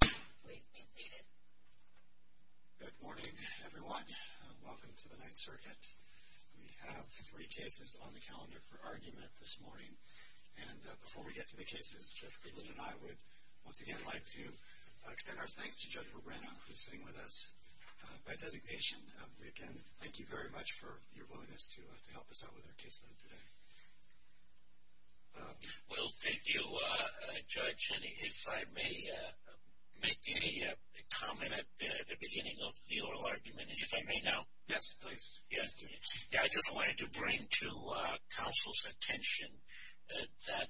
Please be seated. Good morning, everyone. Welcome to the Ninth Circuit. We have three cases on the calendar for argument this morning. And before we get to the cases, Judge Lundquist and I would once again like to extend our thanks to Judge Rubino, who's sitting with us by designation. We again thank you very much for your willingness to help us out with our caseload today. Well, thank you, Judge. And if I may make a comment at the beginning of the oral argument, and if I may now. Yes, please. I just wanted to bring to counsel's attention that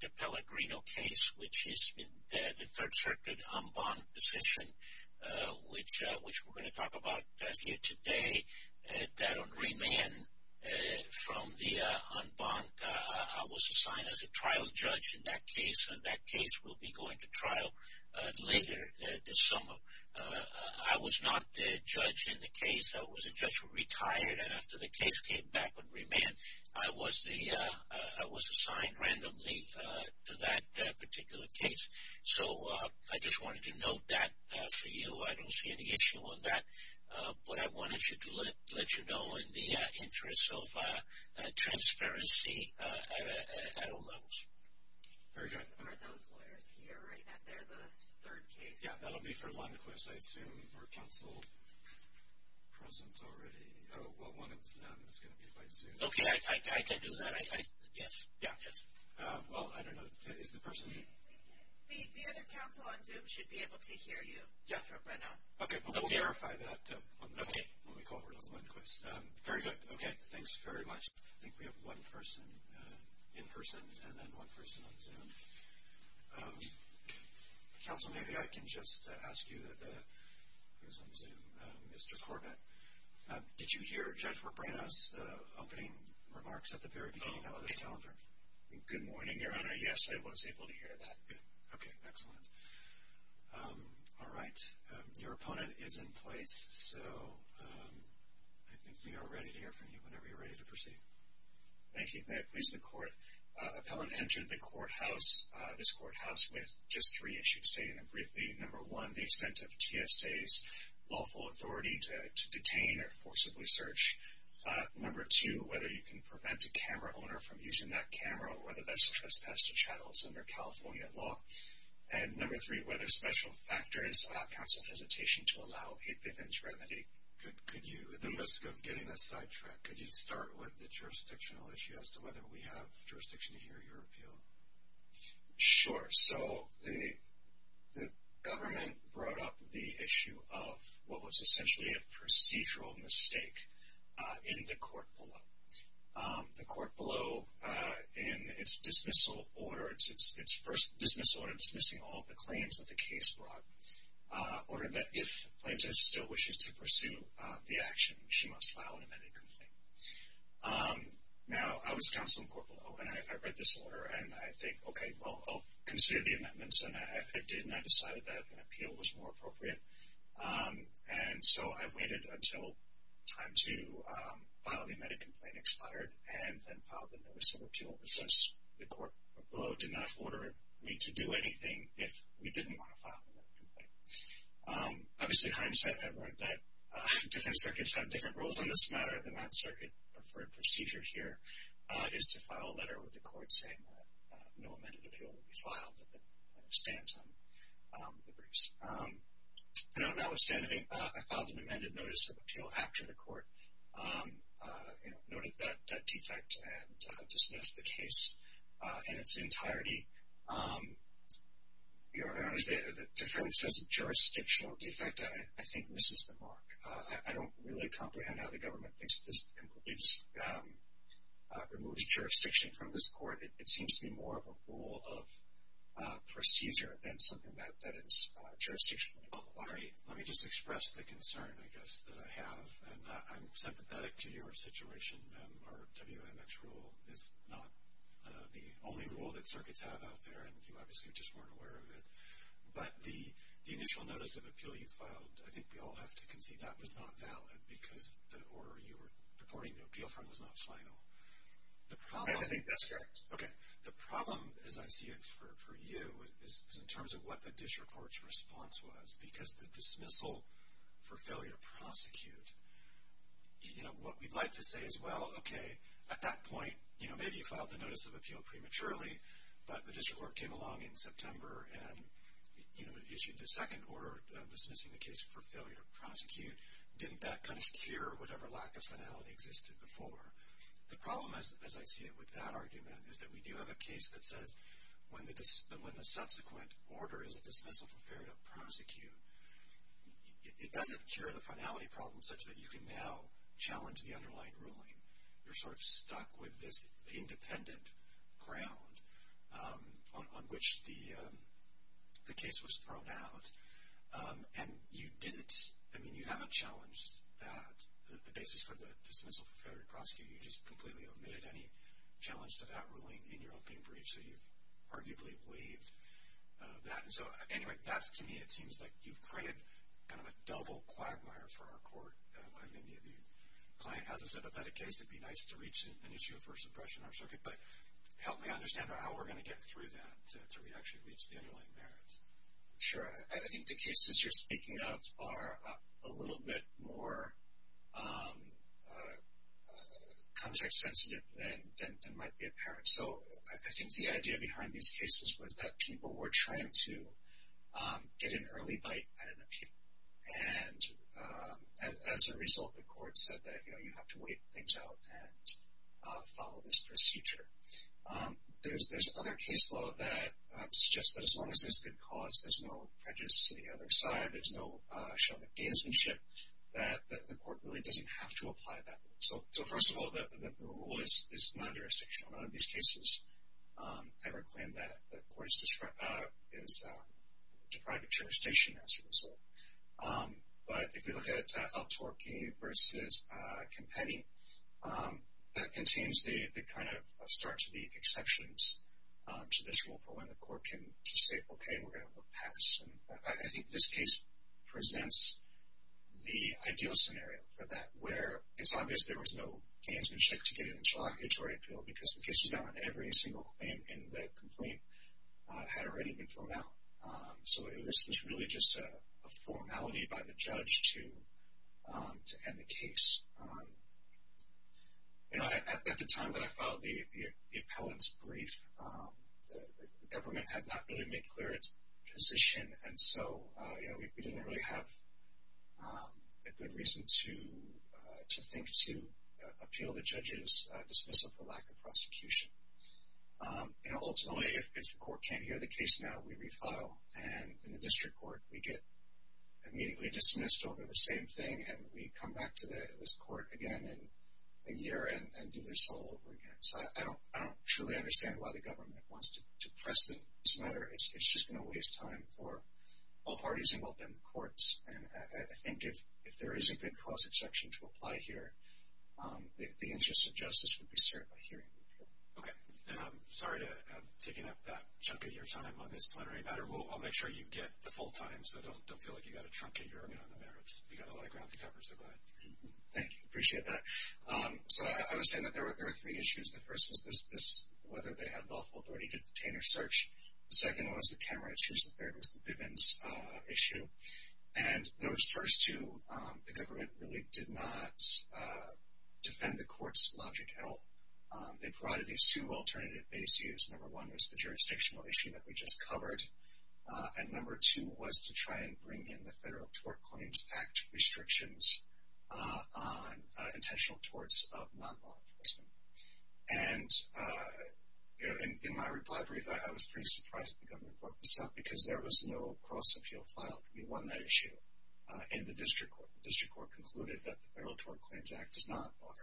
the Pellegrino case, which is the Third Circuit en banc decision, which we're going to talk about here today, that on remand from the en banc, I was assigned as a trial judge in that case, and that case will be going to trial later this summer. I was not the judge in the case. I was a judge who retired, and after the case came back on remand, I was assigned randomly to that particular case. So I just wanted to note that for you. I don't see any issue with that. But I wanted to let you know in the interest of transparency at all levels. Very good. Are those lawyers here right now? They're the third case? Yeah, that'll be for Lundquist, I assume, or counsel present already. Oh, well, one of them is going to be by Zoom. Okay, I can do that. Yes, yes. Well, I don't know. Is the person here? The other counsel on Zoom should be able to hear you right now. Okay, but we'll verify that when we call for Lundquist. Very good. Okay, thanks very much. I think we have one person in person and then one person on Zoom. Counsel, maybe I can just ask you, who's on Zoom, Mr. Corbett. Did you hear Judge Robrano's opening remarks at the very beginning of the calendar? Oh, good morning, Your Honor. Yes, I was able to hear that. Okay, excellent. All right, your opponent is in place, so I think we are ready to hear from you whenever you're ready to proceed. Thank you. May it please the Court. Appellant entered the courthouse, this courthouse, with just three issues. State them briefly. Number one, the extent of TSA's lawful authority to detain or forcibly search. Number two, whether you can prevent a camera owner from using that camera or whether that's trespass to chattels under California law. And number three, whether special factors allow counsel hesitation to allow a vivid remedy. Could you, at the risk of getting a sidetrack, could you start with the jurisdictional issue as to whether we have jurisdiction to hear your appeal? Sure. So the government brought up the issue of what was essentially a procedural mistake in the court below. The court below, in its dismissal order, its first dismissal order dismissing all the claims that the case brought, ordered that if plaintiff still wishes to pursue the action, she must file an amended complaint. Now, I was counsel in court below, and I read this order, and I think, okay, well, I'll consider the amendments. And I did, and I decided that an appeal was more appropriate. And so I waited until time to file the amended complaint expired and then filed the notice of appeal, since the court below did not order me to do anything if we didn't want to file the amended complaint. Obviously, hindsight, I learned that different circuits have different rules on this matter, and that circuit preferred procedure here is to file a letter with the court saying that no amended appeal will be filed if the plaintiff stands on the briefs. And notwithstanding, I filed an amended notice of appeal after the court noted that defect and dismissed the case in its entirety. The defendant says jurisdictional defect. I think this is the mark. I don't really comprehend how the government thinks this completely removes jurisdiction from this court. It seems to be more of a rule of procedure than something that is jurisdictional. Let me just express the concern, I guess, that I have. And I'm sympathetic to your situation. Our WMX rule is not the only rule that circuits have out there, and you obviously just weren't aware of it. But the initial notice of appeal you filed, I think we all have to concede that was not valid because the order you were purporting to appeal from was not final. I think that's correct. Okay. The problem, as I see it for you, is in terms of what the district court's response was because the dismissal for failure to prosecute, you know, what we'd like to say is, well, okay, at that point, you know, maybe you filed the notice of appeal prematurely, but the district court came along in September and, you know, issued the second order dismissing the case for failure to prosecute. Didn't that kind of cure whatever lack of finality existed before? The problem, as I see it with that argument, is that we do have a case that says when the subsequent order is a dismissal for failure to prosecute, it doesn't cure the finality problem such that you can now challenge the underlying ruling. You're sort of stuck with this independent ground on which the case was thrown out. And you didn't, I mean, you haven't challenged that, the basis for the dismissal for failure to prosecute. You just completely omitted any challenge to that ruling in your opening brief, so you've arguably waived that. And so, anyway, to me, it seems like you've created kind of a double quagmire for our court. I mean, the client has a sympathetic case. It would be nice to reach an issue of first impression in our circuit, but help me understand how we're going to get through that to actually reach the underlying merits. Sure. I think the cases you're speaking of are a little bit more context sensitive than might be apparent. So I think the idea behind these cases was that people were trying to get an early bite at an appeal. And as a result, the court said that, you know, you have to wait things out and follow this procedure. There's other case law that suggests that as long as there's good cause, there's no prejudice to the other side, there's no show of advancemanship, that the court really doesn't have to apply that rule. So first of all, the rule is non-jurisdictional. None of these cases ever claim that the court is deprived of jurisdiction as a result. But if you look at Al-Torki versus Kempany, that contains the kind of start to the exceptions to this rule for when the court can just say, okay, we're going to look past. I think this case presents the ideal scenario for that, where it's obvious there was no advancemanship to get an interlocutory appeal, because the case you got on every single claim in the complaint had already been thrown out. So this was really just a formality by the judge to end the case. You know, at the time that I filed the appellant's brief, the government had not really made clear its position. And so, you know, we didn't really have a good reason to think to appeal the judge's dismissal for lack of prosecution. You know, ultimately, if the court can't hear the case now, we refile. And in the district court, we get immediately dismissed over the same thing, and we come back to this court again in a year and do this all over again. So I don't truly understand why the government wants to press this matter. It's just going to waste time for all parties involved in the courts. And I think if there is a good cause exception to apply here, the interest of justice would be served by hearing the appeal. Okay. And I'm sorry to have taken up that chunk of your time on this plenary matter. I'll make sure you get the full time, so don't feel like you've got to truncate your argument on the matter. You've got a lot of ground to cover, so go ahead. Thank you. Appreciate that. So I would say that there were three issues. The first was this, whether they had lawful authority to detain or search. The second one was the camera issues. The third was the Bivens issue. And those first two, the government really did not defend the court's logic at all. They provided these two alternative bases. Number one was the jurisdictional issue that we just covered, and number two was to try and bring in the Federal Tort Claims Act restrictions on intentional torts of non-law enforcement. And, you know, in my reply brief, I was pretty surprised the government brought this up, because there was no cross-appeal filed. We won that issue in the district court. The district court concluded that the Federal Tort Claims Act does not bar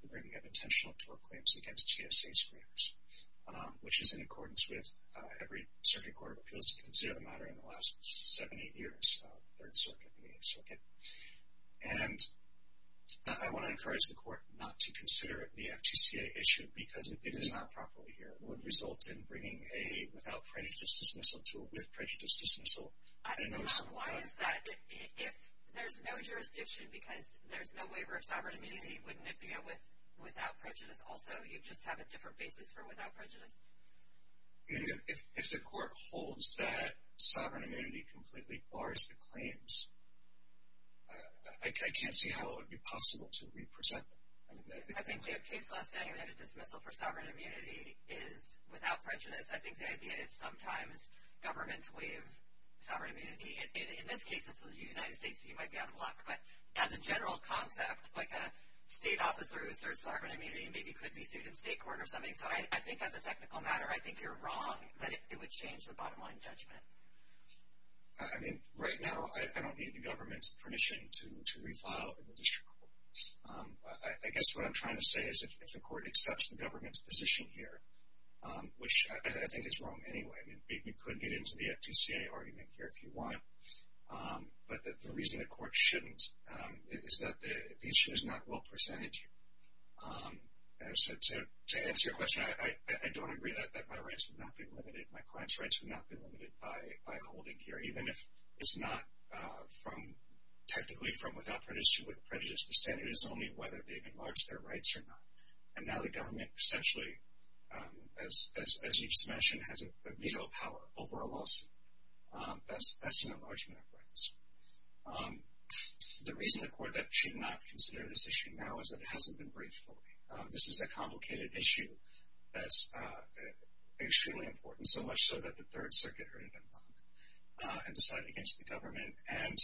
the bringing of intentional tort claims against GSA screeners, which is in accordance with every circuit court of appeals to consider the matter in the last seven, eight years, Third Circuit and Eighth Circuit. And I want to encourage the court not to consider the FTCA issue, because if it is not properly here, it would result in bringing a without prejudice dismissal to a with prejudice dismissal. I don't know. Why is that? If there's no jurisdiction because there's no waiver of sovereign immunity, wouldn't it be a without prejudice also? You'd just have a different basis for without prejudice? If the court holds that sovereign immunity completely bars the claims, I can't see how it would be possible to represent them. I think we have case law saying that a dismissal for sovereign immunity is without prejudice. I think the idea is sometimes governments waive sovereign immunity. In this case, it's the United States, so you might be out of luck. But as a general concept, like a state officer who asserts sovereign immunity maybe could be sued in state court or something. So I think as a technical matter, I think you're wrong that it would change the bottom line judgment. I mean, right now, I don't need the government's permission to refile in the district courts. I guess what I'm trying to say is if the court accepts the government's position here, which I think is wrong anyway. I mean, you could get into the FTCA argument here if you want. But the reason the court shouldn't is that the issue is not well presented here. So to answer your question, I don't agree that my rights would not be limited. My client's rights would not be limited by holding here, even if it's not from technically from without prejudice to with prejudice. The standard is only whether they've enlarged their rights or not. And now the government essentially, as you just mentioned, has a veto power over a lawsuit. That's an enlargement of rights. The reason the court should not consider this issue now is that it hasn't been briefed fully. This is a complicated issue that's extremely important, so much so that the Third Circuit heard it and decided against the government. And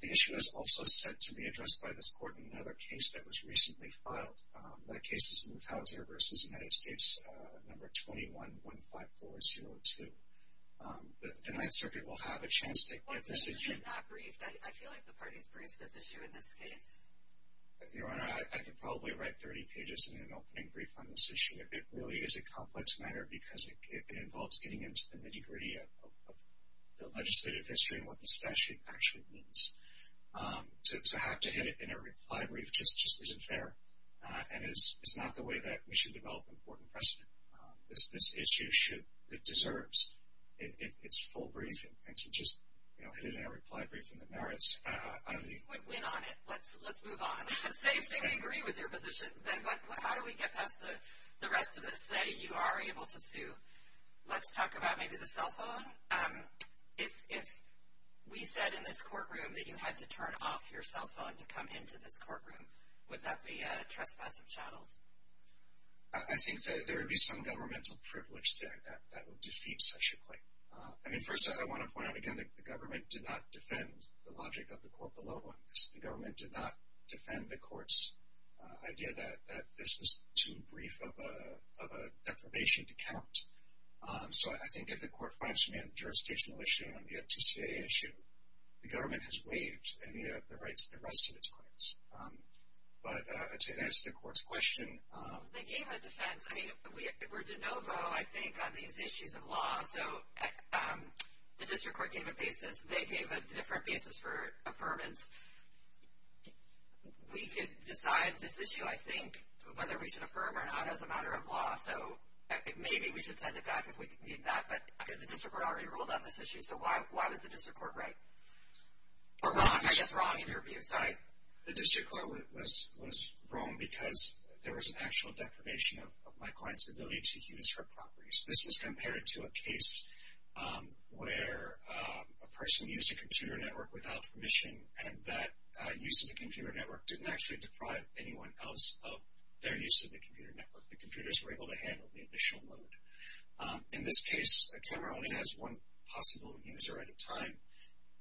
the issue is also set to be addressed by this court in another case that was recently filed. That case is Muthalteh versus United States number 21-15402. The Ninth Circuit will have a chance to get this issue. But this issue is not briefed. I feel like the parties briefed this issue in this case. Your Honor, I could probably write 30 pages in an opening brief on this issue. It really is a complex matter because it involves getting into the nitty-gritty of the legislative history and what the statute actually means. So to have to hit it in a reply brief just isn't fair. And it's not the way that we should develop important precedent. This issue deserves its full briefing. And to just hit it in a reply brief in the merits, I think — You would win on it. Let's move on. Same thing. We agree with your position. But how do we get past the rest of this? Say you are able to sue. Let's talk about maybe the cell phone. If we said in this courtroom that you had to turn off your cell phone to come into this courtroom, would that be trespass of chattels? I think that there would be some governmental privilege there that would defeat such a claim. I mean, first, I want to point out again that the government did not defend the logic of the court below on this. The government did not defend the court's idea that this was too brief of a deprivation to count. So I think if the court finds we have a jurisdictional issue and we have a TCIA issue, the government has waived any of the rights to the rest of its claims. But to answer the court's question — They gave a defense. I mean, we're de novo, I think, on these issues of law. So the district court gave a basis. We could decide this issue, I think, whether we should affirm or not as a matter of law. So maybe we should send it back if we need that. But the district court already ruled on this issue, so why was the district court right? Or wrong, I guess wrong in your view. Sorry. The district court was wrong because there was an actual deprivation of my client's ability to use her properties. This was compared to a case where a person used a computer network without permission, and that use of the computer network didn't actually deprive anyone else of their use of the computer network. The computers were able to handle the additional load. In this case, a camera only has one possible user at a time,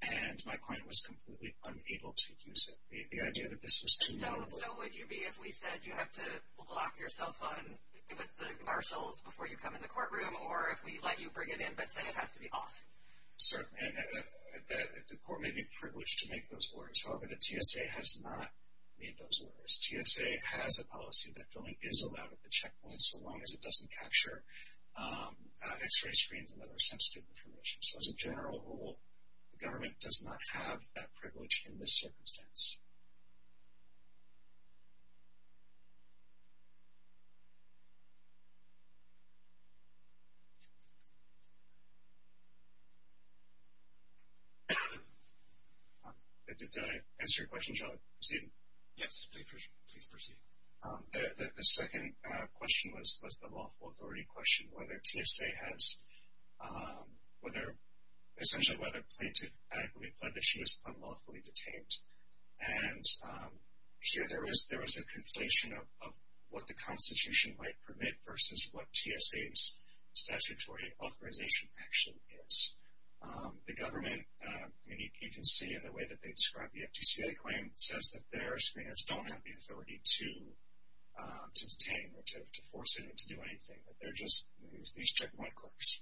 and my client was completely unable to use it. The idea that this was too — So would you be, if we said you have to lock your cell phone with the marshals before you come in the courtroom, or if we let you bring it in but say it has to be off? Certainly. The court may be privileged to make those orders. However, the TSA has not made those orders. TSA has a policy that filming is allowed at the checkpoint so long as it doesn't capture X-ray screens and other sensitive information. So as a general rule, the government does not have that privilege in this circumstance. Did I answer your question, Joe? Proceed. Yes, please proceed. The second question was the lawful authority question, whether TSA has — essentially whether a plaintiff adequately pled that she was unlawfully detained. And here there was a conflation of what the Constitution might permit versus what TSA's statutory authorization actually is. The government, you can see in the way that they describe the FTCA claim, says that their screeners don't have the authority to detain or to force anyone to do anything. That they're just these checkpoint clerks.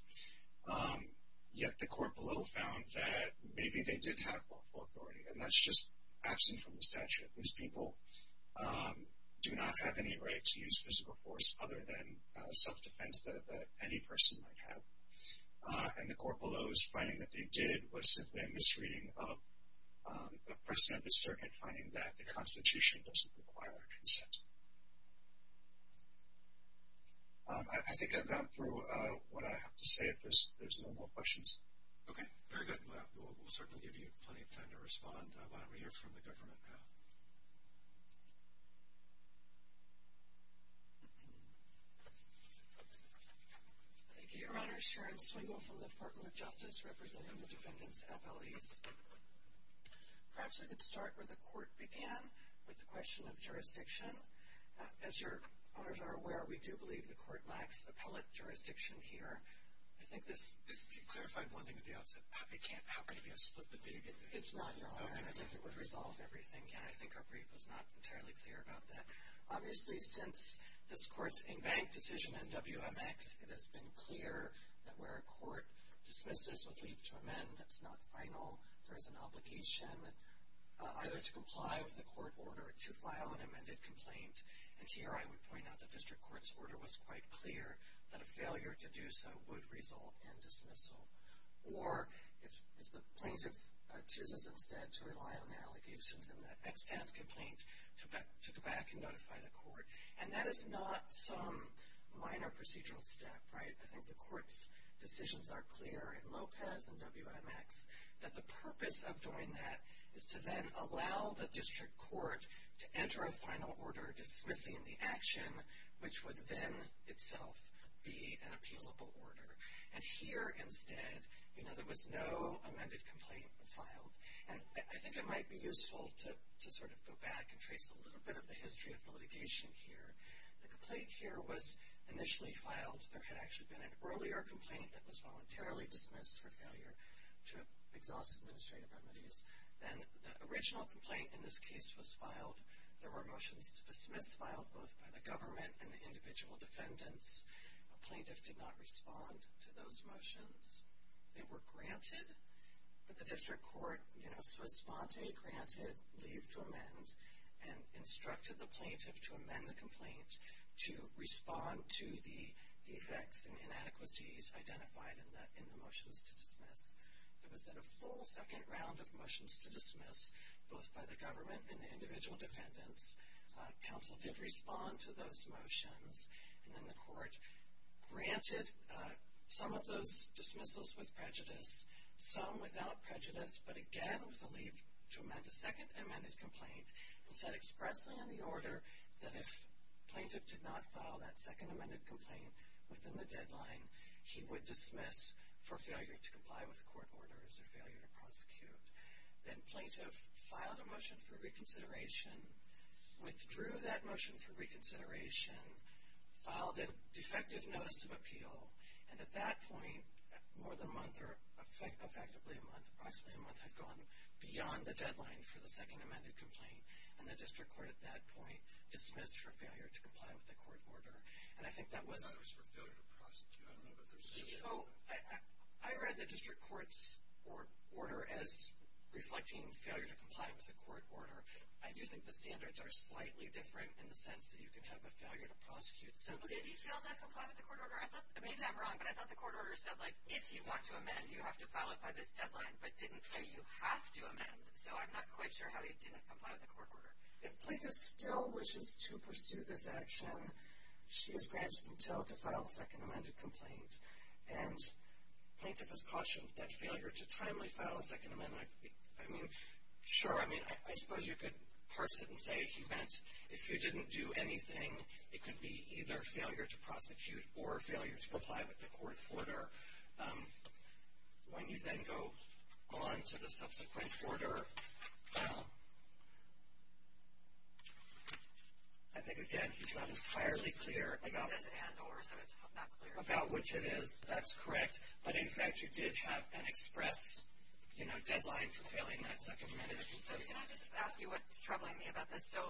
Yet the court below found that maybe they did have lawful authority, and that's just absent from the statute. These people do not have any right to use physical force other than self-defense that any person might have. And the court below's finding that they did was simply a misreading of the person at the circuit and finding that the Constitution doesn't require consent. I think I've gone through what I have to say. If there's no more questions. Okay, very good. We'll certainly give you plenty of time to respond while we hear from the government now. Thank you, Your Honor. Sharon Swingle from the Department of Justice representing the defendants' FLEs. Perhaps I could start where the court began with the question of jurisdiction. As Your Honors are aware, we do believe the court lacks appellate jurisdiction here. I think this clarified one thing at the outset. It can't happen if you split the big. It's not, Your Honor, and I think it would resolve everything. I think our brief was not entirely clear about that. Obviously, since this court's in-bank decision in WMX, it has been clear that where a court dismisses with leave to amend, that's not final. There is an obligation either to comply with the court order or to file an amended complaint. And here I would point out the district court's order was quite clear that a failure to do so would result in dismissal. Or if the plaintiff chooses instead to rely on the allegations in the extant complaint to go back and notify the court. And that is not some minor procedural step, right? I think the court's decisions are clear in Lopez and WMX that the purpose of doing that is to then allow the district court to enter a final order dismissing the action, which would then itself be an appealable order. And here instead, you know, there was no amended complaint filed. And I think it might be useful to sort of go back and trace a little bit of the history of the litigation here. The complaint here was initially filed. There had actually been an earlier complaint that was voluntarily dismissed for failure to exhaust administrative remedies. Then the original complaint in this case was filed. There were motions to dismiss filed both by the government and the individual defendants. A plaintiff did not respond to those motions. They were granted, but the district court, you know, so a sponte granted leave to amend and instructed the plaintiff to amend the complaint to respond to the defects and inadequacies identified in the motions to dismiss. There was then a full second round of motions to dismiss, both by the government and the individual defendants. Council did respond to those motions. And then the court granted some of those dismissals with prejudice, some without prejudice, but again with the leave to amend a second amended complaint and said expressly in the order that if plaintiff did not file that second amended complaint within the deadline, he would dismiss for failure to comply with court orders or failure to prosecute. Then plaintiff filed a motion for reconsideration, withdrew that motion for reconsideration, filed a defective notice of appeal. And at that point, more than a month or effectively a month, approximately a month had gone beyond the deadline for the second amended complaint. And the district court at that point dismissed for failure to comply with the court order. And I think that was... I thought it was for failure to prosecute. I don't know if there's a difference. I read the district court's order as reflecting failure to comply with the court order. I do think the standards are slightly different in the sense that you can have a failure to prosecute. So did he fail to comply with the court order? Maybe I'm wrong, but I thought the court order said, like, if you want to amend, you have to file it by this deadline, but didn't say you have to amend. So I'm not quite sure how he didn't comply with the court order. If plaintiff still wishes to pursue this action, she is granted until to file a second amended complaint. And plaintiff has cautioned that failure to timely file a second amendment, I mean, sure. I mean, I suppose you could parse it and say he meant if you didn't do anything, it could be either failure to prosecute or failure to comply with the court order. When you then go on to the subsequent order, I think, again, he's not entirely clear about which it is. That's correct. But, in fact, you did have an express, you know, deadline for failing that second amendment. So can I just ask you what's troubling me about this? So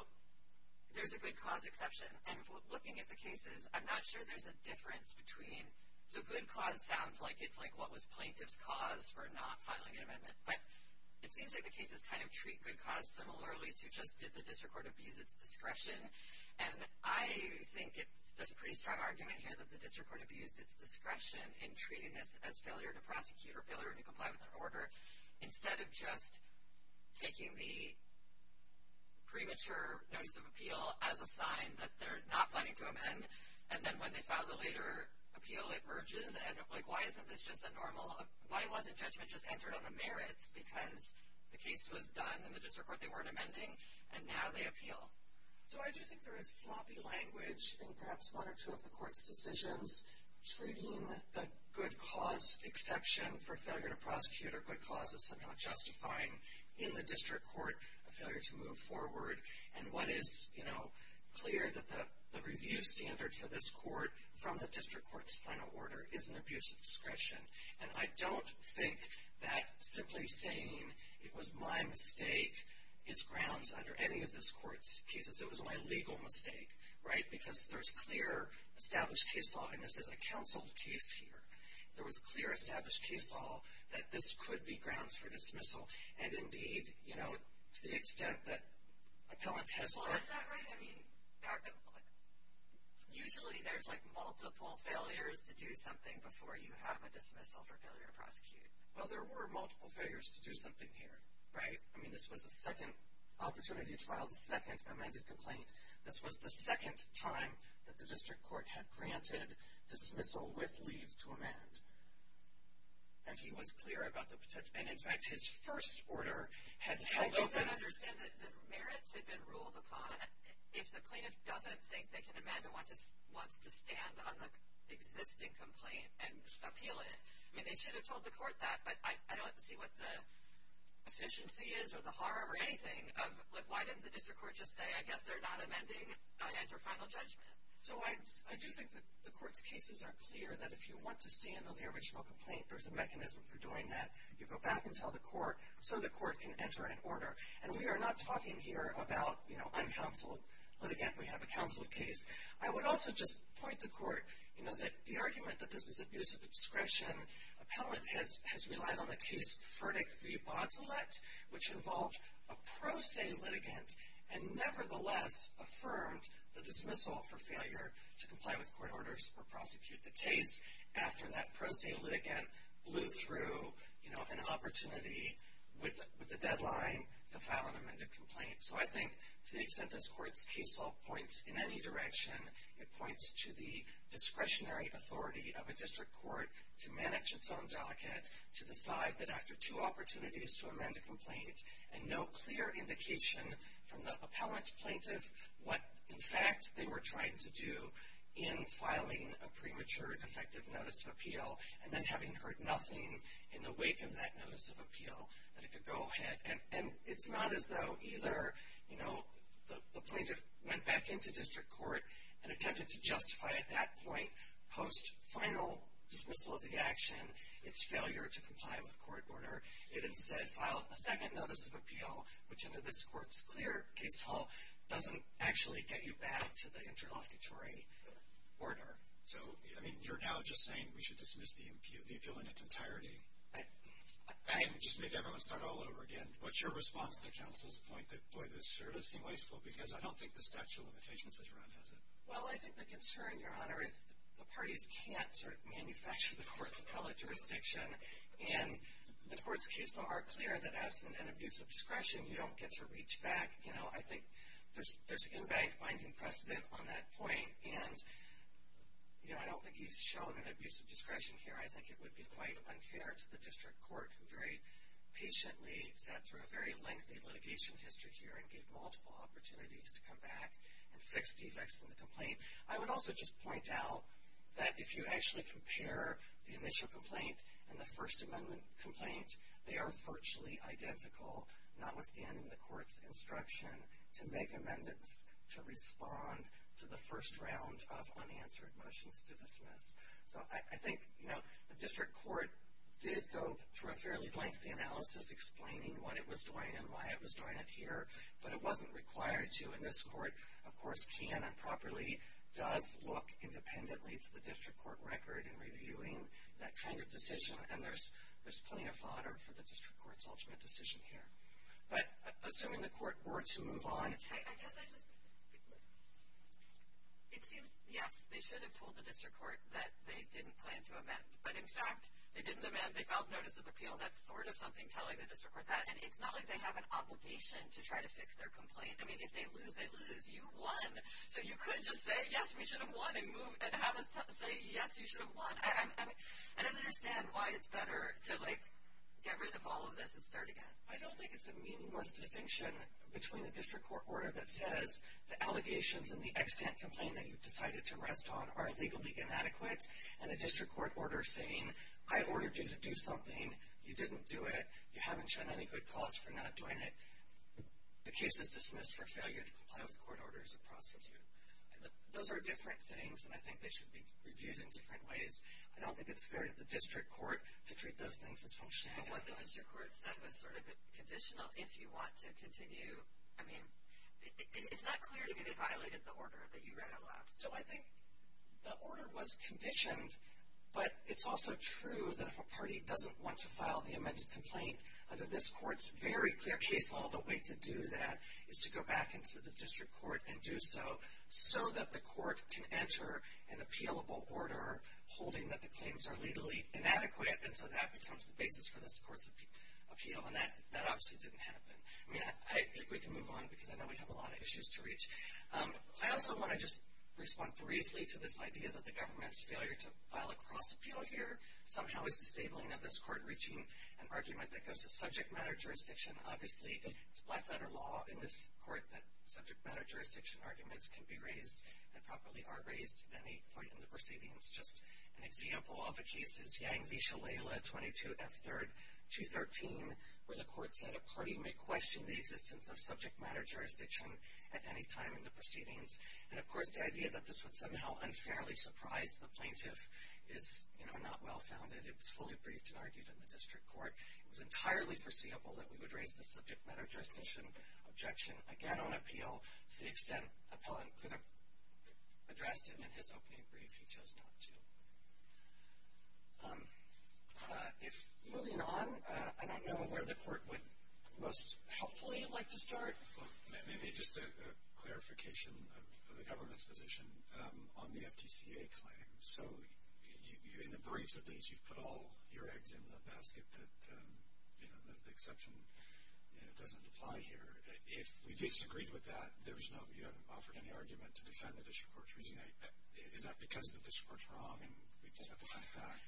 there's a good cause exception, and looking at the cases, I'm not sure there's a difference between. So good cause sounds like it's like what was plaintiff's cause for not filing an amendment. But it seems like the cases kind of treat good cause similarly to just did the district court abuse its discretion. And I think there's a pretty strong argument here that the district court abused its discretion in treating this as failure to prosecute or failure to comply with an order, instead of just taking the premature notice of appeal as a sign that they're not planning to amend. And then when they file the later appeal, it merges. And, like, why isn't this just a normal, why wasn't judgment just entered on the merits? Because the case was done in the district court, they weren't amending, and now they appeal. So I do think there is sloppy language in perhaps one or two of the court's decisions, treating the good cause exception for failure to prosecute or good cause as somehow justifying, in the district court, a failure to move forward. And one is, you know, clear that the review standard for this court, from the district court's final order, is an abuse of discretion. And I don't think that simply saying it was my mistake is grounds under any of this court's cases. It was my legal mistake. Right? Because there's clear established case law, and this is a counsel case here. There was clear established case law that this could be grounds for dismissal. And, indeed, you know, to the extent that appellant has learned that. Is that right? I mean, usually there's, like, multiple failures to do something before you have a dismissal for failure to prosecute. Well, there were multiple failures to do something here. Right? I mean, this was the second opportunity to file the second amended complaint. This was the second time that the district court had granted dismissal with leave to amend. And he was clear about the protection. And, in fact, his first order had held open. I just don't understand that the merits had been ruled upon. If the plaintiff doesn't think they can amend and wants to stand on the existing complaint and appeal it, I mean, they should have told the court that. But I don't see what the efficiency is or the harm or anything of, like, why didn't the district court just say, I guess they're not amending your final judgment? So I do think that the court's cases are clear that if you want to stand on the original complaint, there's a mechanism for doing that. You go back and tell the court so the court can enter an order. And we are not talking here about, you know, uncounseled litigant. We have a counseled case. I would also just point to court, you know, that the argument that this is abuse of discretion, appellant has relied on a case, Ferdick v. Botelet, which involved a pro se litigant and nevertheless affirmed the dismissal for failure to comply with court orders or prosecute the case after that pro se litigant blew through, you know, an opportunity with a deadline to file an amended complaint. So I think to the extent this court's case law points in any direction, it points to the discretionary authority of a district court to manage its own docket, to decide that after two opportunities to amend a complaint and no clear indication from the appellant plaintiff what, in fact, they were trying to do in filing a premature defective notice of appeal and then having heard nothing in the wake of that notice of appeal that it could go ahead. And it's not as though either, you know, the plaintiff went back into district court and attempted to justify at that point, post final dismissal of the action, its failure to comply with court order. It instead filed a second notice of appeal, which under this court's clear case law doesn't actually get you back to the interlocutory order. So, I mean, you're now just saying we should dismiss the appeal in its entirety? I just make everyone start all over again. What's your response to counsel's point that, boy, this sure does seem wasteful because I don't think the statute of limitations that you're on has it. Well, I think the concern, Your Honor, is the parties can't sort of manufacture the court's appellate jurisdiction and the court's case law are clear that absent an abuse of discretion, you don't get to reach back. You know, I think there's in bank binding precedent on that point and, you know, I don't think he's shown an abuse of discretion here. I think it would be quite unfair to the district court who very patiently sat through a very lengthy litigation history here and gave multiple opportunities to come back and fix defects in the complaint. I would also just point out that if you actually compare the initial complaint and the First Amendment complaint, they are virtually identical, notwithstanding the court's instruction to make amendments to respond to the first round of unanswered motions to dismiss. So I think, you know, the district court did go through a fairly lengthy analysis explaining what it was doing and why it was doing it here, but it wasn't required to. And this court, of course, can and properly does look independently to the district court record in reviewing that kind of decision. And there's plenty of fodder for the district court's ultimate decision here. But assuming the court were to move on... I guess I just... It seems, yes, they should have told the district court that they didn't plan to amend. But, in fact, they didn't amend. They filed notice of appeal. That's sort of something telling the district court that. And it's not like they have an obligation to try to fix their complaint. I mean, if they lose, they lose. You won. So you couldn't just say, yes, we should have won and have us say, yes, you should have won. I don't understand why it's better to, like, get rid of all of this and start again. I don't think it's a meaningless distinction between a district court order that says the allegations and the extant complaint that you've decided to rest on are legally inadequate and a district court order saying I ordered you to do something, you didn't do it, you haven't shown any good cause for not doing it. The case is dismissed for failure to comply with court orders of prosecutor. Those are different things, and I think they should be reviewed in different ways. I don't think it's fair to the district court to treat those things as functionally inadequate. But what the district court said was sort of conditional. If you want to continue, I mean, it's not clear to me they violated the order that you read out loud. So I think the order was conditioned, but it's also true that if a party doesn't want to file the amended complaint, under this court's very clear case law, the way to do that is to go back into the district court and do so, so that the court can enter an appealable order holding that the claims are legally inadequate, and so that becomes the basis for this court's appeal. And that obviously didn't happen. I mean, if we can move on, because I know we have a lot of issues to reach. I also want to just respond briefly to this idea that the government's failure to file a cross appeal here somehow is disabling of this court reaching an argument that goes to subject matter jurisdiction. Obviously, it's black letter law in this court that subject matter jurisdiction arguments can be raised and properly are raised at any point in the proceedings. Just an example of a case is Yang v. Shalala 22F3-213, where the court said a party may question the existence of subject matter jurisdiction at any time in the proceedings. And, of course, the idea that this would somehow unfairly surprise the plaintiff is not well-founded. It was fully briefed and argued in the district court. It was entirely foreseeable that we would raise the subject matter jurisdiction objection again on appeal to the extent an appellant could have addressed it in his opening brief, he chose not to. Moving on, I don't know where the court would most helpfully like to start. Maybe just a clarification of the government's position on the FTCA claim. So in the briefs of these, you've put all your eggs in the basket that the exception doesn't apply here. If we disagreed with that, you haven't offered any argument to defend the district court's reasoning. Is that because the district court's wrong and we just have to send it back?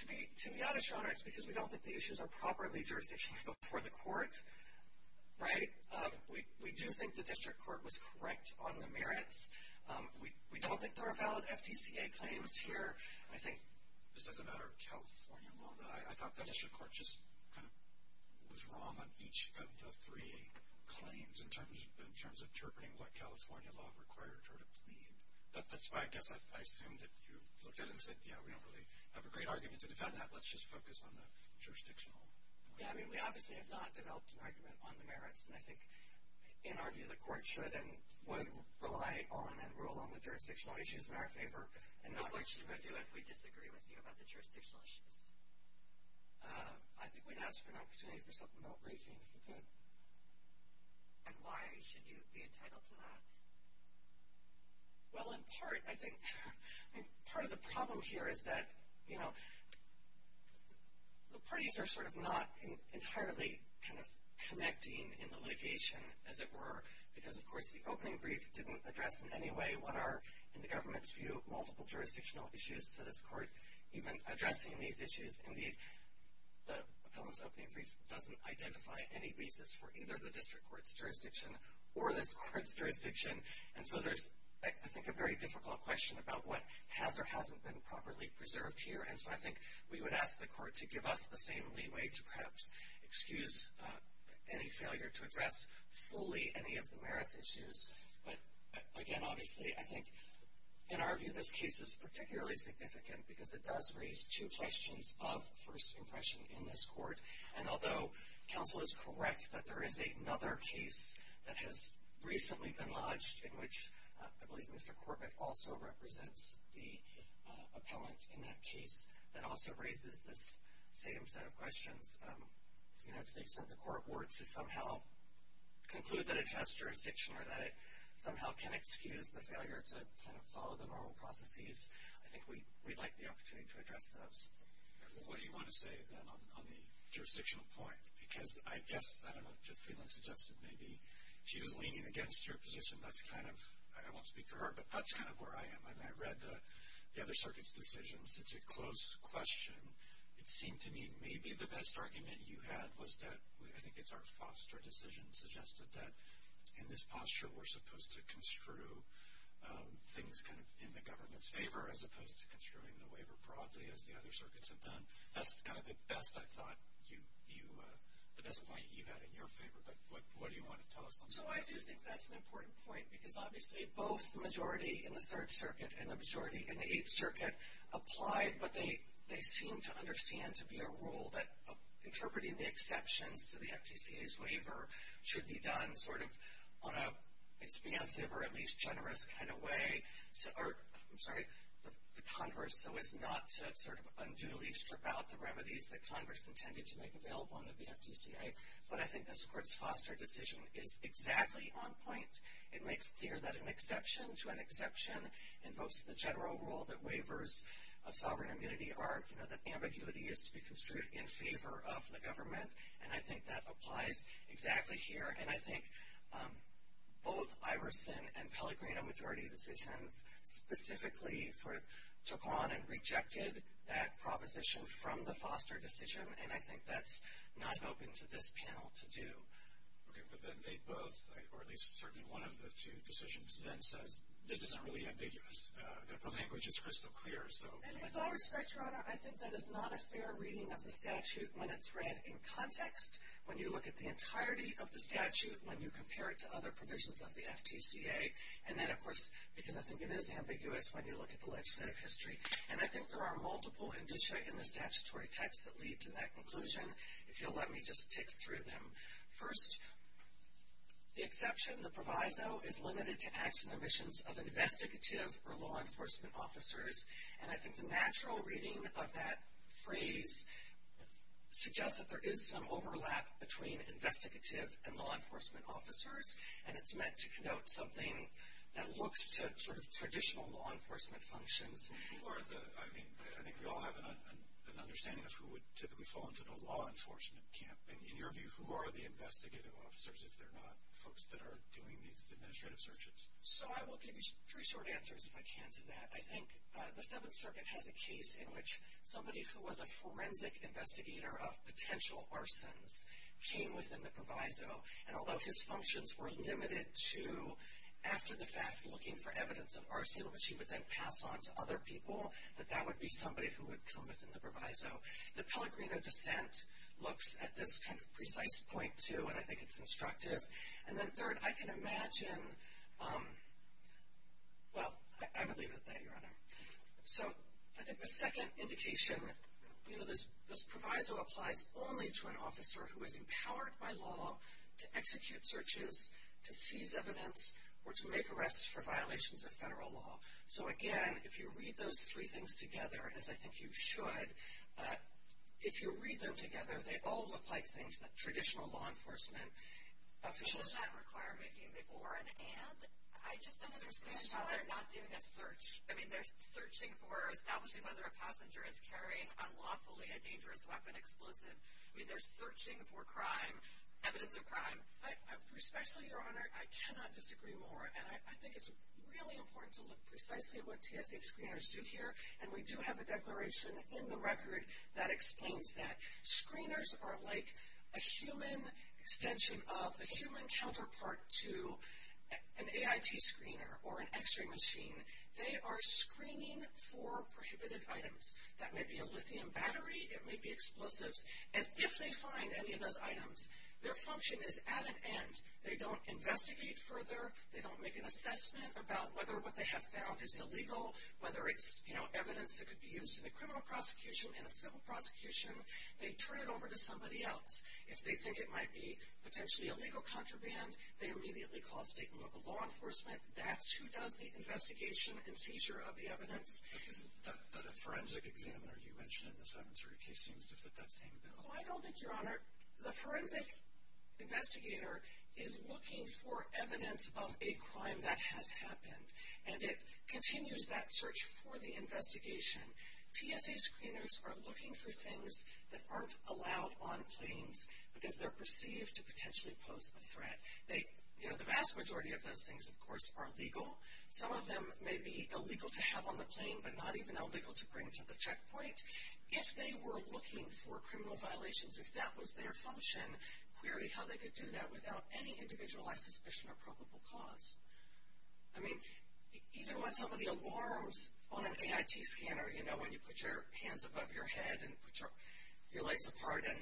To me, out of genre, it's because we don't think the issues are properly jurisdictionally before the court. Right? We do think the district court was correct on the merits. We don't think there are valid FTCA claims here. I think it's just a matter of California law. I thought the district court just kind of was wrong on each of the three claims in terms of interpreting what California law required her to plead. That's why I guess I assumed that you looked at it and said, yeah, we don't really have a great argument to defend that. Let's just focus on the jurisdictional point. Yeah, I mean, we obviously have not developed an argument on the merits, and I think in our view the court should and would rely on and rule on the jurisdictional issues in our favor. What should we do if we disagree with you about the jurisdictional issues? I think we'd ask for an opportunity for something about briefing if we could. And why should you be entitled to that? Well, in part, I think part of the problem here is that, you know, the parties are sort of not entirely kind of connecting in the litigation, as it were, because, of course, the opening brief didn't address in any way what are, in the government's view, multiple jurisdictional issues to this court. Even addressing these issues in the appellant's opening brief doesn't identify any basis for either the district court's jurisdiction or this court's jurisdiction. And so there's, I think, a very difficult question about what has or hasn't been properly preserved here. And so I think we would ask the court to give us the same leeway to perhaps excuse any failure to address fully any of the merits issues. But, again, obviously, I think in our view this case is particularly significant because it does raise two questions of first impression in this court. And although counsel is correct that there is another case that has recently been lodged in which I believe Mr. Corbett also represents the appellant in that case, that also raises this same set of questions, you know, to the extent the court were to somehow conclude that it has jurisdiction or that it somehow can excuse the failure to kind of follow the normal processes, I think we'd like the opportunity to address those. What do you want to say then on the jurisdictional point? Because I guess, I don't know, Judge Friedland suggested maybe she was leaning against your position. That's kind of, I won't speak for her, but that's kind of where I am. And I read the other circuit's decisions. It's a close question. It seemed to me maybe the best argument you had was that, I think it's Art Foster's decision, suggested that in this posture we're supposed to construe things kind of in the government's favor as opposed to construing the waiver broadly as the other circuits have done. That's kind of the best I thought you, the best point you had in your favor. But what do you want to tell us on that? So I do think that's an important point because obviously both the majority in the Third Circuit and the majority in the Eighth Circuit applied what they seemed to understand to be a rule that interpreting the exceptions to the FTCA's waiver should be done sort of on an expansive or at least generous kind of way. I'm sorry, the Congress. So it's not sort of unduly stripped out the remedies that Congress intended to make available in the FTCA. But I think this Court's Foster decision is exactly on point. It makes clear that an exception to an exception invokes the general rule that waivers of sovereign immunity are, you know, that ambiguity is to be construed in favor of the government. And I think that applies exactly here. And I think both Iverson and Pellegrino majority decisions specifically sort of took on and rejected that proposition from the Foster decision, and I think that's not open to this panel to do. Okay, but then they both, or at least certainly one of the two decisions, then says this isn't really ambiguous, that the language is crystal clear. And with all respect, Your Honor, I think that is not a fair reading of the statute when it's read in context. When you look at the entirety of the statute, when you compare it to other provisions of the FTCA, and then, of course, because I think it is ambiguous when you look at the legislative history. And I think there are multiple indicia in the statutory text that lead to that conclusion. If you'll let me just tick through them. First, the exception, the proviso, is limited to acts and omissions of investigative or law enforcement officers. And I think the natural reading of that phrase suggests that there is some overlap between investigative and law enforcement officers, and it's meant to connote something that looks to sort of traditional law enforcement functions. I think we all have an understanding of who would typically fall into the law enforcement camp. In your view, who are the investigative officers if they're not folks that are doing these administrative searches? So I will give you three short answers, if I can, to that. I think the Seventh Circuit has a case in which somebody who was a forensic investigator of potential arsons came within the proviso, and although his functions were limited to, after the fact, looking for evidence of arson, which he would then pass on to other people, that that would be somebody who would come within the proviso. The Pellegrino dissent looks at this kind of precise point, too, and I think it's instructive. And then third, I can imagine, well, I would leave it at that, Your Honor. So I think the second indication, you know, this proviso applies only to an officer who is empowered by law to execute searches, to seize evidence, or to make arrests for violations of federal law. So again, if you read those three things together, as I think you should, if you read them together, they all look like things that traditional law enforcement officials... Does that require making before an and? I just don't understand how they're not doing a search. I mean, they're searching for establishing whether a passenger is carrying unlawfully a dangerous weapon explosive. I mean, they're searching for crime, evidence of crime. Respectfully, Your Honor, I cannot disagree more, and I think it's really important to look precisely at what TSA screeners do here, and we do have a declaration in the record that explains that. Screeners are like a human extension of a human counterpart to an AIT screener or an x-ray machine. They are screening for prohibited items. That may be a lithium battery. It may be explosives. And if they find any of those items, their function is at an and. They don't investigate further. They don't make an assessment about whether what they have found is illegal, whether it's evidence that could be used in a criminal prosecution, in a civil prosecution. They turn it over to somebody else. If they think it might be potentially a legal contraband, they immediately call state and local law enforcement. That's who does the investigation and seizure of the evidence. But the forensic examiner you mentioned in this Evans-Hurley case seems to fit that same bill. Well, I don't think, Your Honor. The forensic investigator is looking for evidence of a crime that has happened, and it continues that search for the investigation. TSA screeners are looking for things that aren't allowed on planes because they're perceived to potentially pose a threat. The vast majority of those things, of course, are legal. Some of them may be illegal to have on the plane, but not even illegal to bring to the checkpoint. If they were looking for criminal violations, if that was their function, query how they could do that without any individualized suspicion or probable cause. I mean, even with some of the alarms on an AIT scanner, you know, when you put your hands above your head and put your legs apart and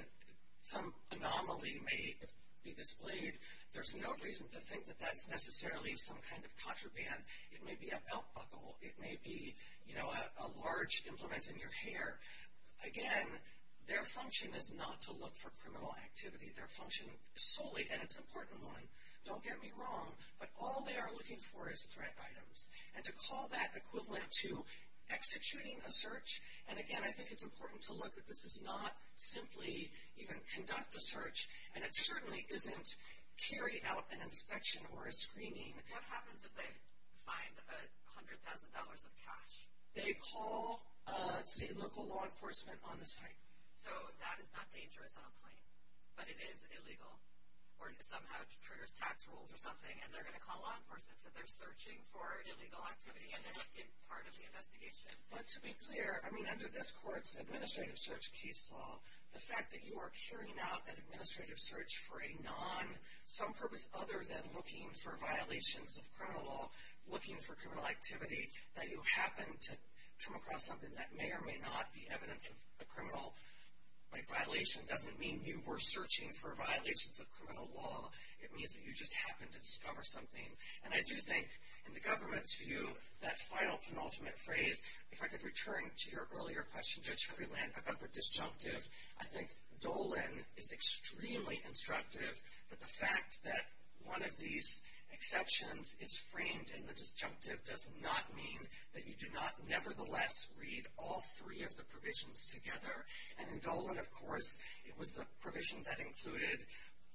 some anomaly may be displayed, there's no reason to think that that's necessarily some kind of contraband. It may be a belt buckle. It may be, you know, a large implement in your hair. Again, their function is not to look for criminal activity. Their function solely, and it's an important one, don't get me wrong, but all they are looking for is threat items. And to call that equivalent to executing a search, and again, I think it's important to look that this is not simply even conduct a search, and it certainly isn't carry out an inspection or a screening. What happens if they find $100,000 of cash? They call state and local law enforcement on the site. So that is not dangerous on a plane, but it is illegal, or somehow triggers tax rules or something, and they're going to call law enforcement and say they're searching for illegal activity, and that's part of the investigation. But to be clear, I mean, under this court's administrative search case law, the fact that you are carrying out an administrative search for a non, some purpose other than looking for violations of criminal law, looking for criminal activity, that you happen to come across something that may or may not be evidence of a criminal violation, doesn't mean you were searching for violations of criminal law. It means that you just happened to discover something. And I do think, in the government's view, that final penultimate phrase, if I could return to your earlier question, Judge Freeland, about the disjunctive, I think Dolan is extremely instructive that the fact that one of these exceptions is framed in the disjunctive does not mean that you do not nevertheless read all three of the provisions together. And in Dolan, of course, it was the provision that included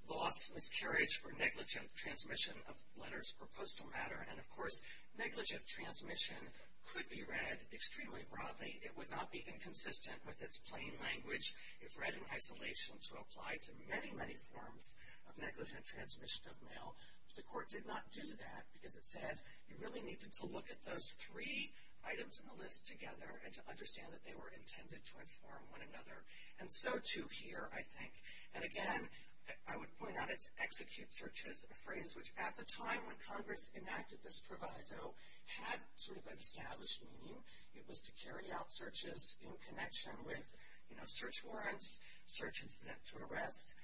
loss, miscarriage, or negligent transmission of letters or postal matter. And, of course, negligent transmission could be read extremely broadly. It would not be inconsistent with its plain language if read in isolation to apply to many, many forms of negligent transmission of mail. But the court did not do that because it said you really need to look at those three items in the list together and to understand that they were intended to inform one another. And so, too, here, I think. And, again, I would point out it's execute searches, a phrase which at the time when Congress enacted this proviso had sort of an established meaning. It was to carry out searches in connection with, you know, search warrants, search incident to arrest.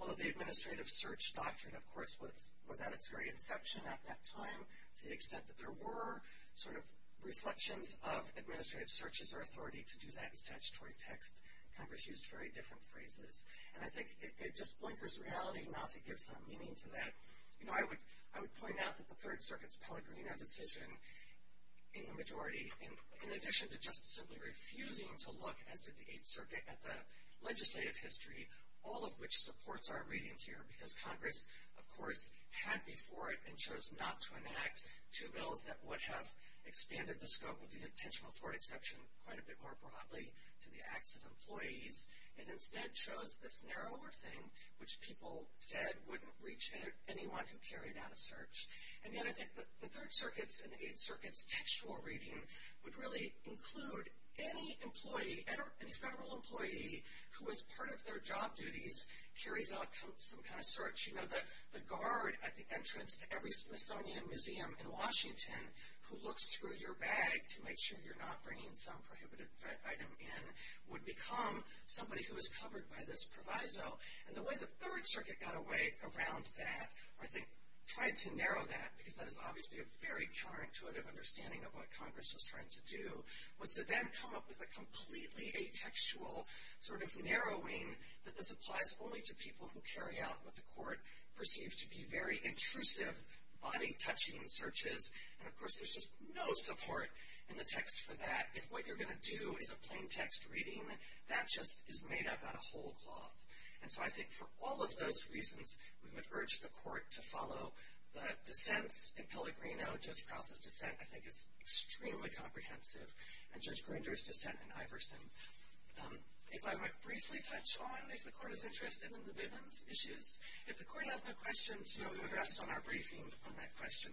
Although the administrative search doctrine, of course, was at its very inception at that time to the extent that there were sort of reflections of administrative searches or authority to do that in statutory text, Congress used very different phrases. And I think it just blinkers reality not to give some meaning to that. You know, I would point out that the Third Circuit's Pellegrino decision in the majority, in addition to just simply refusing to look, as did the Eighth Circuit, at the legislative history, all of which supports our reading here because Congress, of course, had before it and chose not to enact two bills that would have expanded the scope of the attentional authority exception quite a bit more broadly to the acts of employees and instead chose this narrower thing which people said wouldn't reach anyone who carried out a search. And yet I think the Third Circuit's and the Eighth Circuit's textual reading would really include any employee, any federal employee who as part of their job duties carries out some kind of search. You know, the guard at the entrance to every Smithsonian Museum in Washington who looks through your bag to make sure you're not bringing some prohibited item in would become somebody who is covered by this proviso. And the way the Third Circuit got away around that, or I think tried to narrow that, because that is obviously a very counterintuitive understanding of what Congress was trying to do, was to then come up with a completely atextual sort of narrowing that this applies only to people who carry out what the court perceives to be very intrusive, body-touching searches. And, of course, there's just no support in the text for that. If what you're going to do is a plain text reading, that just is made up out of whole cloth. And so I think for all of those reasons, we would urge the court to follow the dissents in Pellegrino. Judge Krause's dissent, I think, is extremely comprehensive, and Judge Grinder's dissent in Iverson. If I might briefly touch on, if the court is interested in the Bivens issues, if the court has no questions, you'll be addressed on our briefing on that question.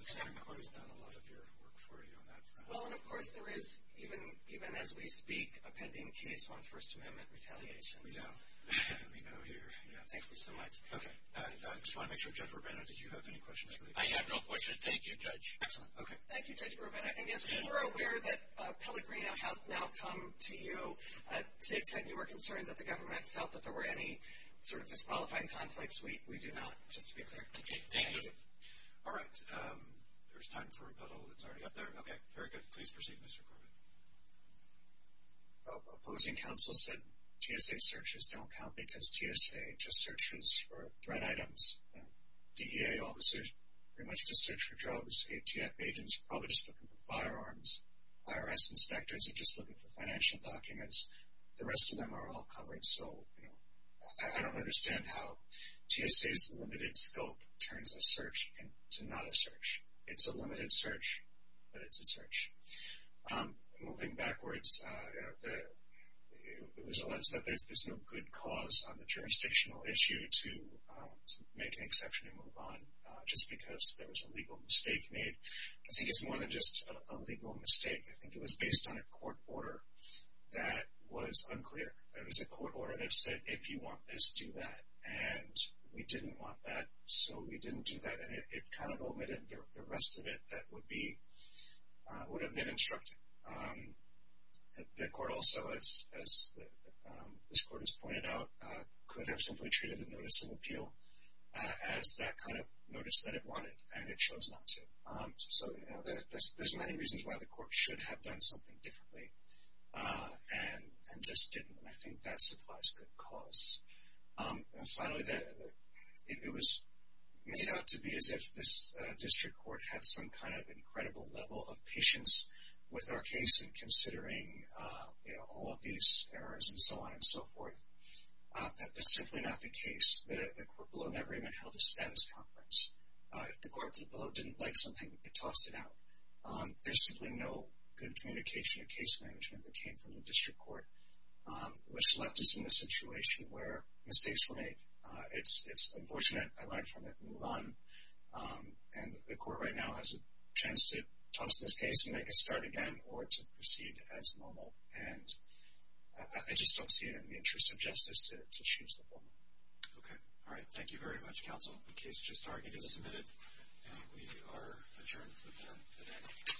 The Supreme Court has done a lot of your work for you on that front. Well, and, of course, there is, even as we speak, a pending case on First Amendment retaliation. Yeah. We know here, yes. Thank you so much. Okay. I just want to make sure, Judge Rubino, did you have any questions for the court? I have no questions. Thank you, Judge. Excellent. Okay. Thank you, Judge Rubino. And, yes, we're aware that Pellegrino has now come to you. Zig said you were concerned that the government felt that there were any sort of disqualifying conflicts. We do not, just to be clear. Okay. Thank you. All right. There's time for rebuttal. It's already up there. Okay. Very good. Please proceed, Mr. Corbett. Opposing counsel said TSA searches don't count because TSA just searches for threat items. DEA officers pretty much just search for drugs. ATF agents are probably just looking for firearms. IRS inspectors are just looking for financial documents. The rest of them are all covered. So, you know, I don't understand how TSA's limited scope turns a search into not a search. It's a limited search, but it's a search. Moving backwards, it was alleged that there's no good cause on the jurisdictional issue to make an exception and move on just because there was a legal mistake made. I think it's more than just a legal mistake. I think it was based on a court order that was unclear. It was a court order that said if you want this, do that. And we didn't want that, so we didn't do that. And it kind of omitted the rest of it that would have been instructed. The court also, as this court has pointed out, could have simply treated the notice of appeal as that kind of notice that it wanted, and it chose not to. So, you know, there's many reasons why the court should have done something differently and just didn't. And I think that supplies a good cause. And finally, it was made out to be as if this district court had some kind of incredible level of patience with our case and considering, you know, all of these errors and so on and so forth. That's simply not the case. The court below never even held a status conference. If the court below didn't like something, it tossed it out. There's simply no good communication or case management that came from the district court, which left us in a situation where mistakes were made. It's unfortunate. I learned from it. Move on. And the court right now has a chance to toss this case and make it start again or to proceed as normal. And I just don't see it in the interest of justice to change the formula. Okay. All right. Thank you very much, counsel. The case was just argued and submitted. And we are adjourned for the day.